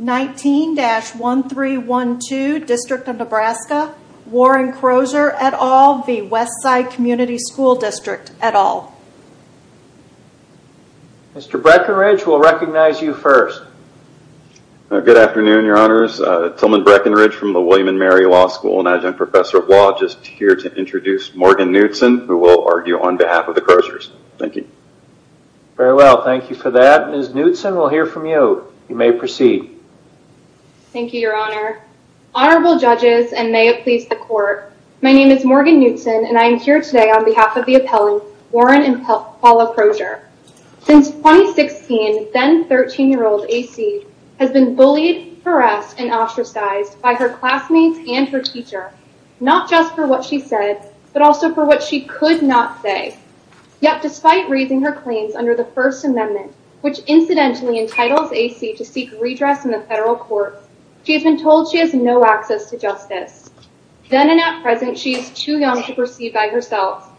19-1312 District of Nebraska, Warren Crozier et al v. Westside Community School District et al. Mr. Breckenridge, we'll recognize you first. Good afternoon, your honors. Tillman Breckenridge from the William & Mary Law School, an adjunct professor of law, just here to introduce Morgan Knudson, who will argue on behalf of the Croziers. Thank you. Very well, thank you for that. Ms. Knudson, may I proceed? Thank you, your honor. Honorable judges, and may it please the court, my name is Morgan Knudson, and I am here today on behalf of the appellants, Warren and Paula Crozier. Since 2016, then 13-year-old A.C. has been bullied, harassed, and ostracized by her classmates and her teacher, not just for what she said, but also for what she could not say. Yet, despite raising her claims under the First Amendment, which incidentally entitles A.C. to seek redress in the federal court, she has been told she has no access to justice. Then and at present, she is too young to proceed by herself.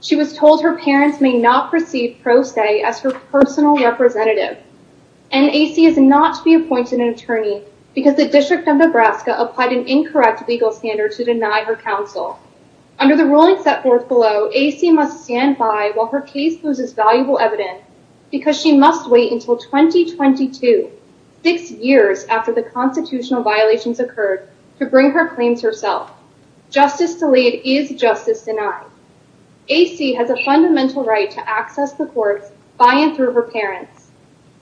She was told her parents may not proceed pro se as her personal representative. And A.C. is not to be appointed an attorney because the District of Nebraska applied an incorrect legal standard to deny her counsel. Under the ruling set forth below, A.C. must stand by while her case loses valuable evidence because she must wait until 2022, six years after the constitutional violations occurred, to bring her claims herself. Justice delayed is justice denied. A.C. has a fundamental right to access the courts by and through her parents.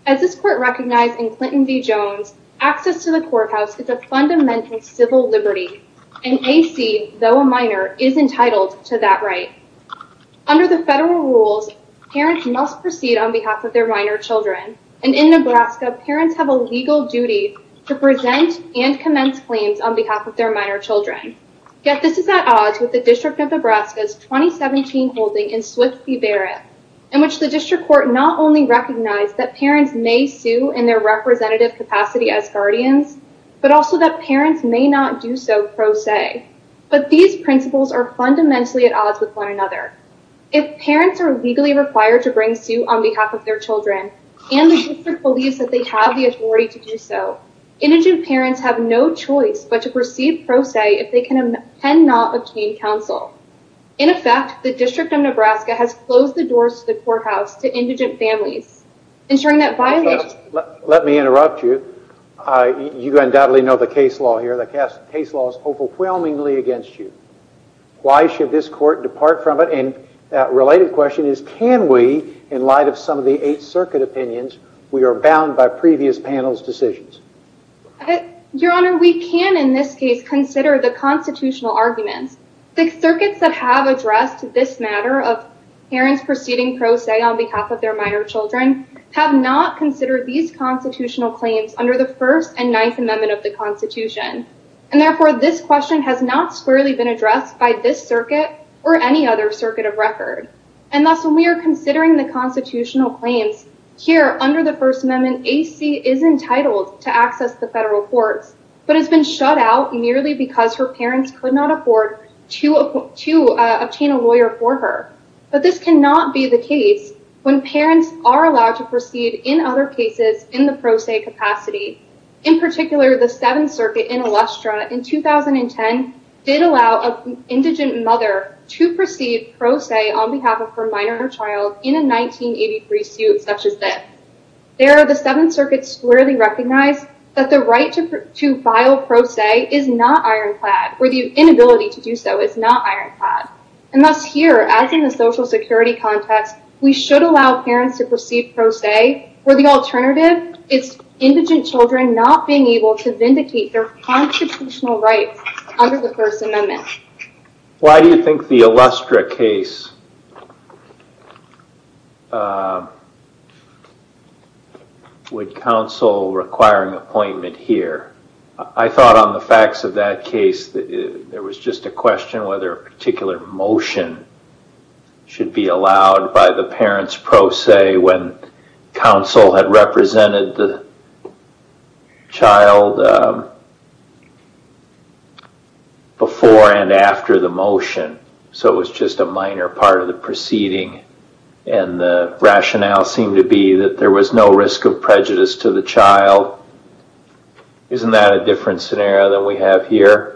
As this court recognized in Clinton v. Jones, access to the courthouse is a fundamental civil liberty, and A.C., though a minor, is entitled to that right. Under the federal rules, parents must proceed on behalf of their minor children. And in Nebraska, parents have a legal duty to present and commence claims on behalf of their minor children. Yet this is at odds with the District of Nebraska's 2017 holding in Swift v. Barrett, in which the District Court not only recognized that parents may sue in their representative capacity as guardians, but also that parents may not do so pro se. But these principles are fundamentally at odds with one another. If parents are legally required to bring suit on behalf of their children, and the District believes that they have the authority to do so, indigent parents have no choice but to proceed pro se if they cannot obtain counsel. In effect, the District of Nebraska has closed the doors to the courthouse to indigent families, ensuring that violations... Let me interrupt you. You undoubtedly know the case law here. The case law is overwhelmingly against you. Why should this court depart from it? And that related question is, can we, in light of some of the Eighth Circuit opinions, we are bound by previous panel's decisions? Your Honor, we can, in this case, consider the constitutional arguments. The circuits that have addressed this matter of parents proceeding pro se on behalf of their minor children have not considered these constitutional claims under the First and Ninth Amendment of the First Amendment. So this question has not squarely been addressed by this circuit or any other circuit of record. And thus, when we are considering the constitutional claims here under the First Amendment, A.C. is entitled to access the federal courts, but has been shut out merely because her parents could not afford to obtain a lawyer for her. But this cannot be the case when parents are allowed to proceed in other cases in the pro se capacity. In particular, the Seventh Circuit in 2010 did allow an indigent mother to proceed pro se on behalf of her minor child in a 1983 suit such as this. There, the Seventh Circuit squarely recognized that the right to file pro se is not ironclad, or the inability to do so is not ironclad. And thus, here, as in the social security context, we should allow parents to proceed pro se, where the alternative is indigent children not being their constitutional rights under the First Amendment. Why do you think the Illustra case would counsel require an appointment here? I thought on the facts of that case, there was just a question whether a particular motion should be allowed by the parents pro se when counsel had represented the child before and after the motion. So it was just a minor part of the proceeding. And the rationale seemed to be that there was no risk of prejudice to the child. Isn't that a different scenario than we have here?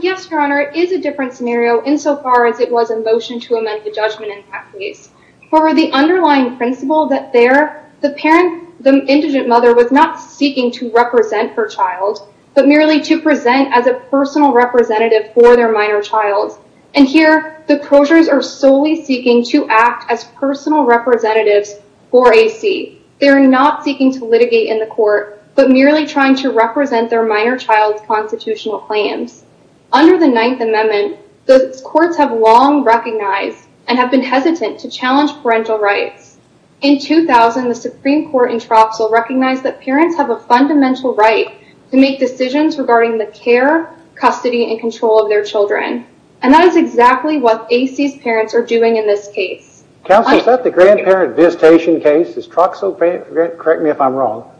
Yes, Your Honor, it is a different scenario insofar as it was a motion to amend the judgment in that case. For the underlying principle that there, the parent, the indigent mother was not seeking to represent her child, but merely to present as a personal representative for their minor child. And here, the closures are solely seeking to act as personal representatives for AC. They're not seeking to litigate in the court, but merely trying to represent their minor child's constitutional claims. Under the Ninth Amendment, those courts have long recognized and have been hesitant to challenge parental rights. In 2000, the Supreme Court in Troxel recognized that parents have a fundamental right to make decisions regarding the care, custody, and control of their children. And that is exactly what AC's parents are doing in this case. Counsel, is that the grandparent visitation case? Is Troxel, correct me if I'm wrong?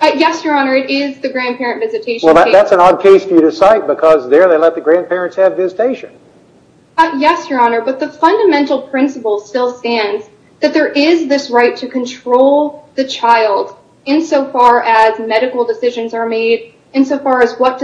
Yes, Your Honor, it is the grandparent visitation case. Well, that's an odd case for you to cite because there they let the grandparents have visitation. Yes, Your Honor, but the fundamental principle still stands that there is this right to control the child insofar as medical decisions are made, insofar as what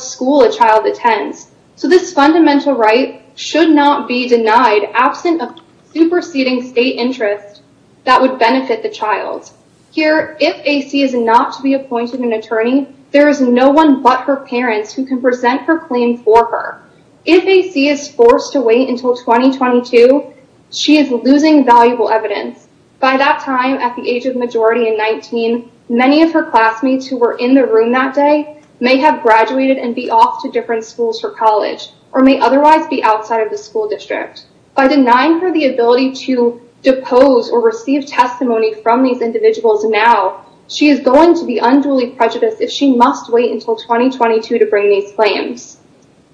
school a child attends. So this fundamental right should not be denied absent of superseding state interest that would benefit the child. Here, if AC is not to be appointed an attorney, there is no one but her parents who can present her for her. If AC is forced to wait until 2022, she is losing valuable evidence. By that time, at the age of majority and 19, many of her classmates who were in the room that day may have graduated and be off to different schools for college or may otherwise be outside of the school district. By denying her the ability to depose or receive testimony from these individuals now, she is going to be unduly prejudiced if she must wait until 2022 to bring these claims.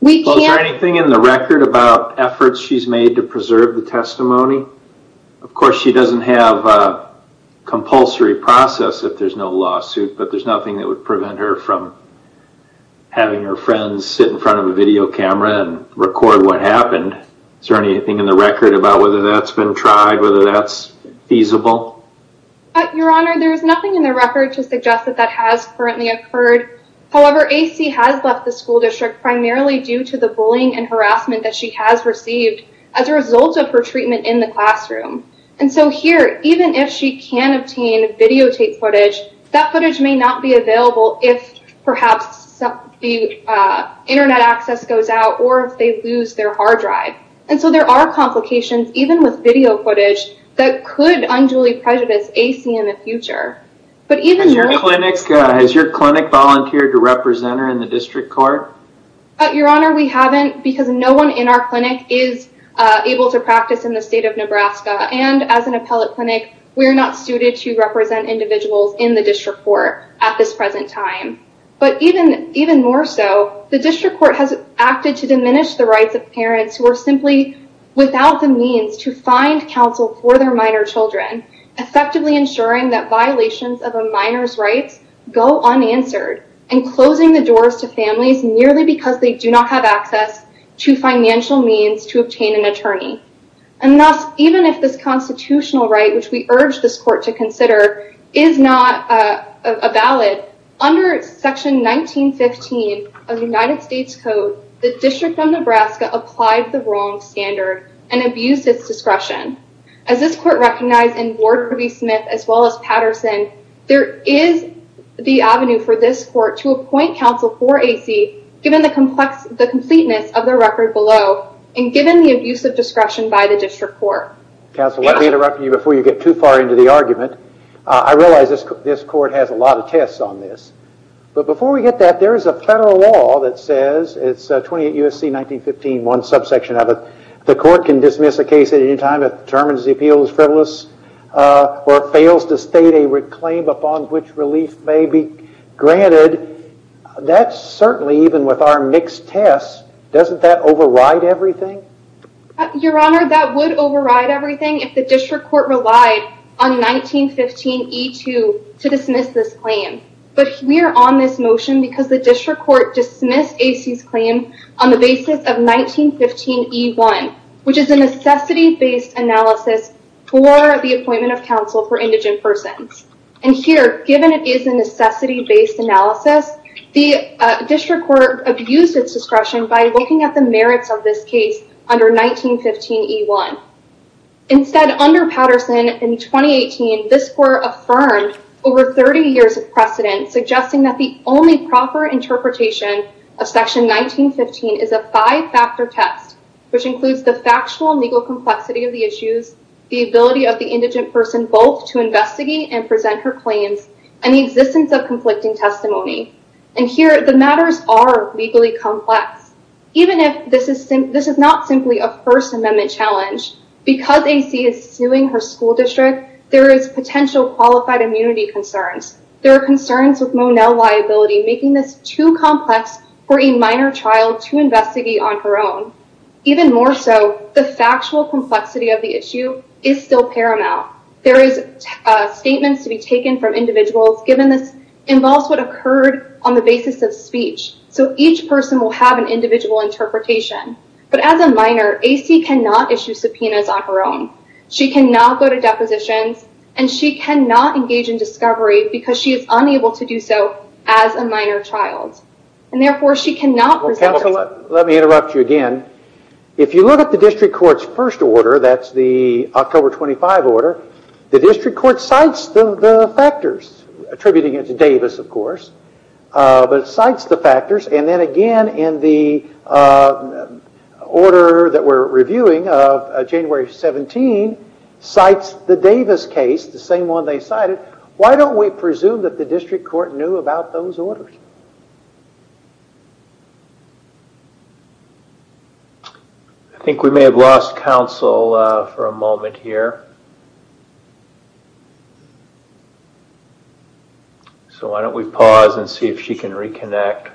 Is there anything in the record about efforts she's made to preserve the testimony? Of course, she doesn't have a compulsory process if there's no lawsuit, but there's nothing that would prevent her from having her friends sit in front of a video camera and record what happened. Is there anything in the record about whether that's been tried, whether that's feasible? Your Honor, there's nothing in the record to suggest that that has currently occurred. However, AC has left the school district primarily due to the bullying and harassment that she has received as a result of her treatment in the classroom. And so here, even if she can obtain videotape footage, that footage may not be available if perhaps the internet access goes out or if they lose their hard drive. And so there are complications, even with video footage, that could unduly prejudice AC in the future. Has your clinic volunteered to represent her in the district court? Your Honor, we haven't because no one in our clinic is able to practice in the state of Nebraska. And as an appellate clinic, we're not suited to represent individuals in the district court at this present time. But even more so, the district court has acted to diminish the rights of parents who are simply without the means to find counsel for their minor children, effectively ensuring that violations of a minor's rights go unanswered and closing the doors to families merely because they do not have access to financial means to obtain an attorney. And thus, even if this constitutional right, which we urge this court to consider, is not valid, under Section 1915 of the United States Code, the District of Nebraska applied the wrong standard and abused its discretion. As this court recognized in Ward-Ruby-Smith as well as Patterson, there is the avenue for this court to appoint counsel for AC, given the completeness of the record below and given the abuse of discretion by the district court. Counsel, let me interrupt you before you get too far into the argument. I realize this court has a lot of tests on this. But before we get that, there is a federal law that says, it's 28 U.S.C. 1915, one subsection of it, the court can dismiss a case at any time that determines the appeal is frivolous or fails to state a claim upon which relief may be granted. That's certainly, even with our mixed tests, doesn't that override everything? Your Honor, that would override everything if the district court relied on 1915E2 to dismiss this claim. But we are on this motion because the district court dismissed AC's claim on the basis of 1915E1, which is a necessity-based analysis for the appointment of counsel for indigent persons. And here, given it is a necessity-based analysis, the district court abused its discretion by looking at the merits of this case under 1915E1. Instead, under Patterson in 2018, this court affirmed over 30 years of precedent, suggesting that the only proper interpretation of section 1915 is a five-factor test, which includes the factual legal complexity of the issues, the ability of the indigent person both to investigate and present her claims, and the existence of conflicting testimony. And here, the matters are legally complex. Even if this is not simply a First Amendment challenge, because AC is suing her school district, there is potential qualified immunity concerns. There are concerns with Monell liability making this too complex for a minor child to investigate on her own. Even more so, the factual complexity of the issue is still paramount. There are statements to be taken from individuals, given this involves what occurred on the basis of speech. So each person will have an individual interpretation. But as a minor, AC cannot issue subpoenas on her own. She cannot go to depositions, and she cannot engage in discovery, because she is unable to do so as a minor child. And therefore, she cannot present herself. Let me interrupt you again. If you look at the district court's first order, that's the factors, attributing it to Davis, of course. But it cites the factors. And then again, in the order that we're reviewing of January 17, cites the Davis case, the same one they cited. Why don't we presume that the district court knew about those orders? I think we may have lost counsel for a moment here. So why don't we pause and see if she can reconnect?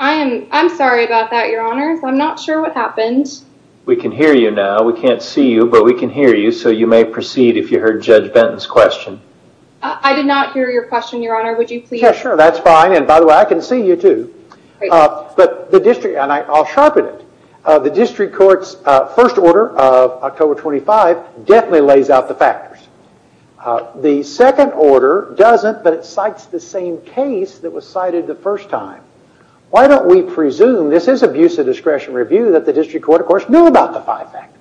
I'm sorry about that, your honor. I'm not sure what happened. We can hear you now. We can't see you, but we can hear you. So you may proceed if you heard Judge Benton's question. I did not hear your question, your honor. Would you please? Yeah, sure. That's fine. And by the way, I can see you too. But the district, and I'll sharpen it, the district court's first order of definitely lays out the factors. The second order doesn't, but it cites the same case that was cited the first time. Why don't we presume this is abuse of discretion review that the district court, of course, knew about the five factors?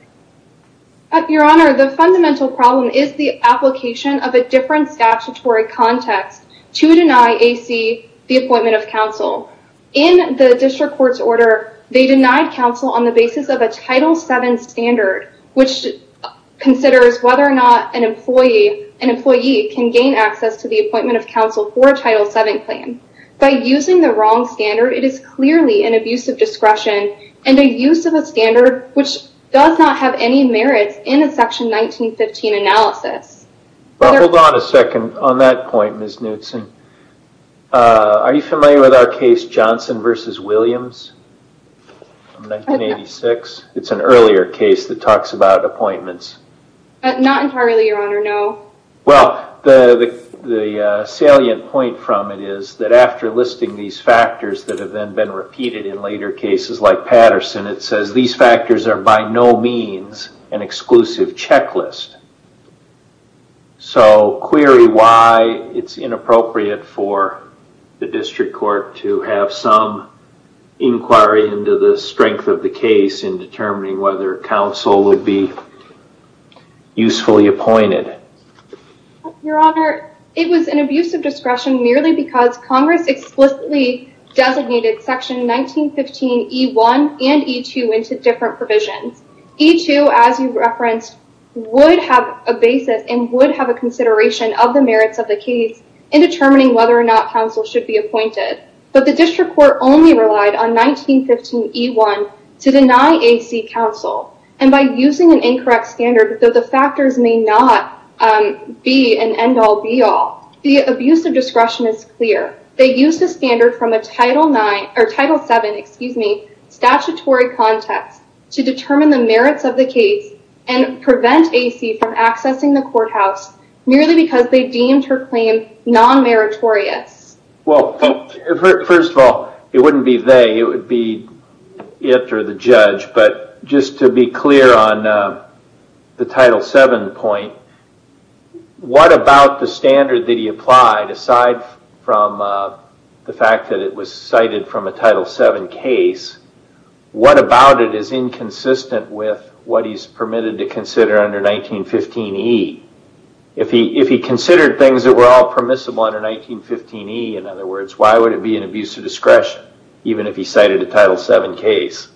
Your honor, the fundamental problem is the application of a different statutory context to deny AC the appointment of counsel. In the considers whether or not an employee can gain access to the appointment of counsel for a Title VII plan. By using the wrong standard, it is clearly an abuse of discretion and a use of a standard which does not have any merits in a section 1915 analysis. Hold on a second on that point, Ms. Knutson. Are you familiar with our case Johnson versus Williams from 1986? It's an appointment. Not entirely, your honor, no. Well, the salient point from it is that after listing these factors that have been repeated in later cases like Patterson, it says these factors are by no means an exclusive checklist. So query why it's inappropriate for the district court to have some inquiry into the strength of the case in determining whether counsel would be usefully appointed. Your honor, it was an abuse of discretion merely because Congress explicitly designated section 1915E1 and E2 into different provisions. E2, as you referenced, would have a basis and would have a consideration of the merits of the case in determining whether or not counsel should be appointed. But the district court only relied on 1915E1 to deny A.C. counsel. And by using an incorrect standard, though the factors may not be an end all, be all, the abuse of discretion is clear. They used a standard from a Title VII statutory context to determine the merits of the case and prevent A.C. from accessing the courthouse merely because they deemed her Well, first of all, it wouldn't be they. It would be it or the judge. But just to be clear on the Title VII point, what about the standard that he applied aside from the fact that it was cited from a Title VII case, what about it is inconsistent with what he's permitted to consider under 1915E? If he considered things that were all permissible under 1915E, in other words, why would it be an abuse of discretion even if he cited a Title VII case?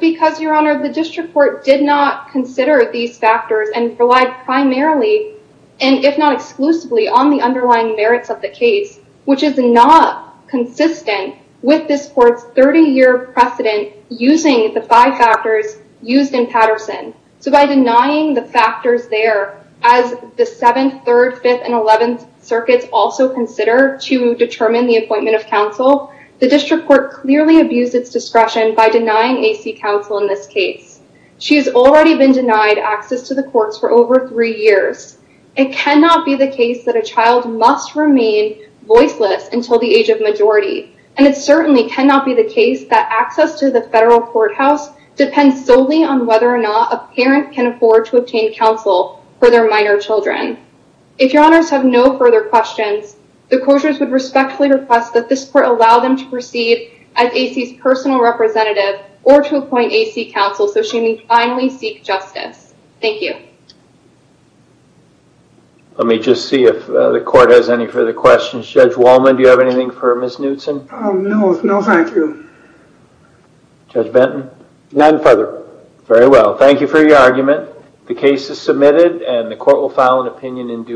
Because, Your Honor, the district court did not consider these factors and relied primarily, and if not exclusively, on the underlying merits of the case, which is not consistent with this court's 30-year precedent using the five factors used in Patterson. So by denying the factors there, as the 7th, 3rd, 5th, and 11th circuits also consider to determine the appointment of counsel, the district court clearly abused its discretion by denying A.C. counsel in this case. She has already been denied access to the courts for over three years. It cannot be the case that a child must remain voiceless until the age of whether or not a parent can afford to obtain counsel for their minor children. If Your Honors have no further questions, the court would respectfully request that this court allow them to proceed as A.C.'s personal representative or to appoint A.C. counsel so she may finally seek justice. Thank you. Let me just see if the court has any further questions. Judge Wallman, do you have anything for Ms. Knutson? No, thank you. Judge Benton? None further. Very well. Thank you for your argument. The case is submitted and the court will file an opinion in due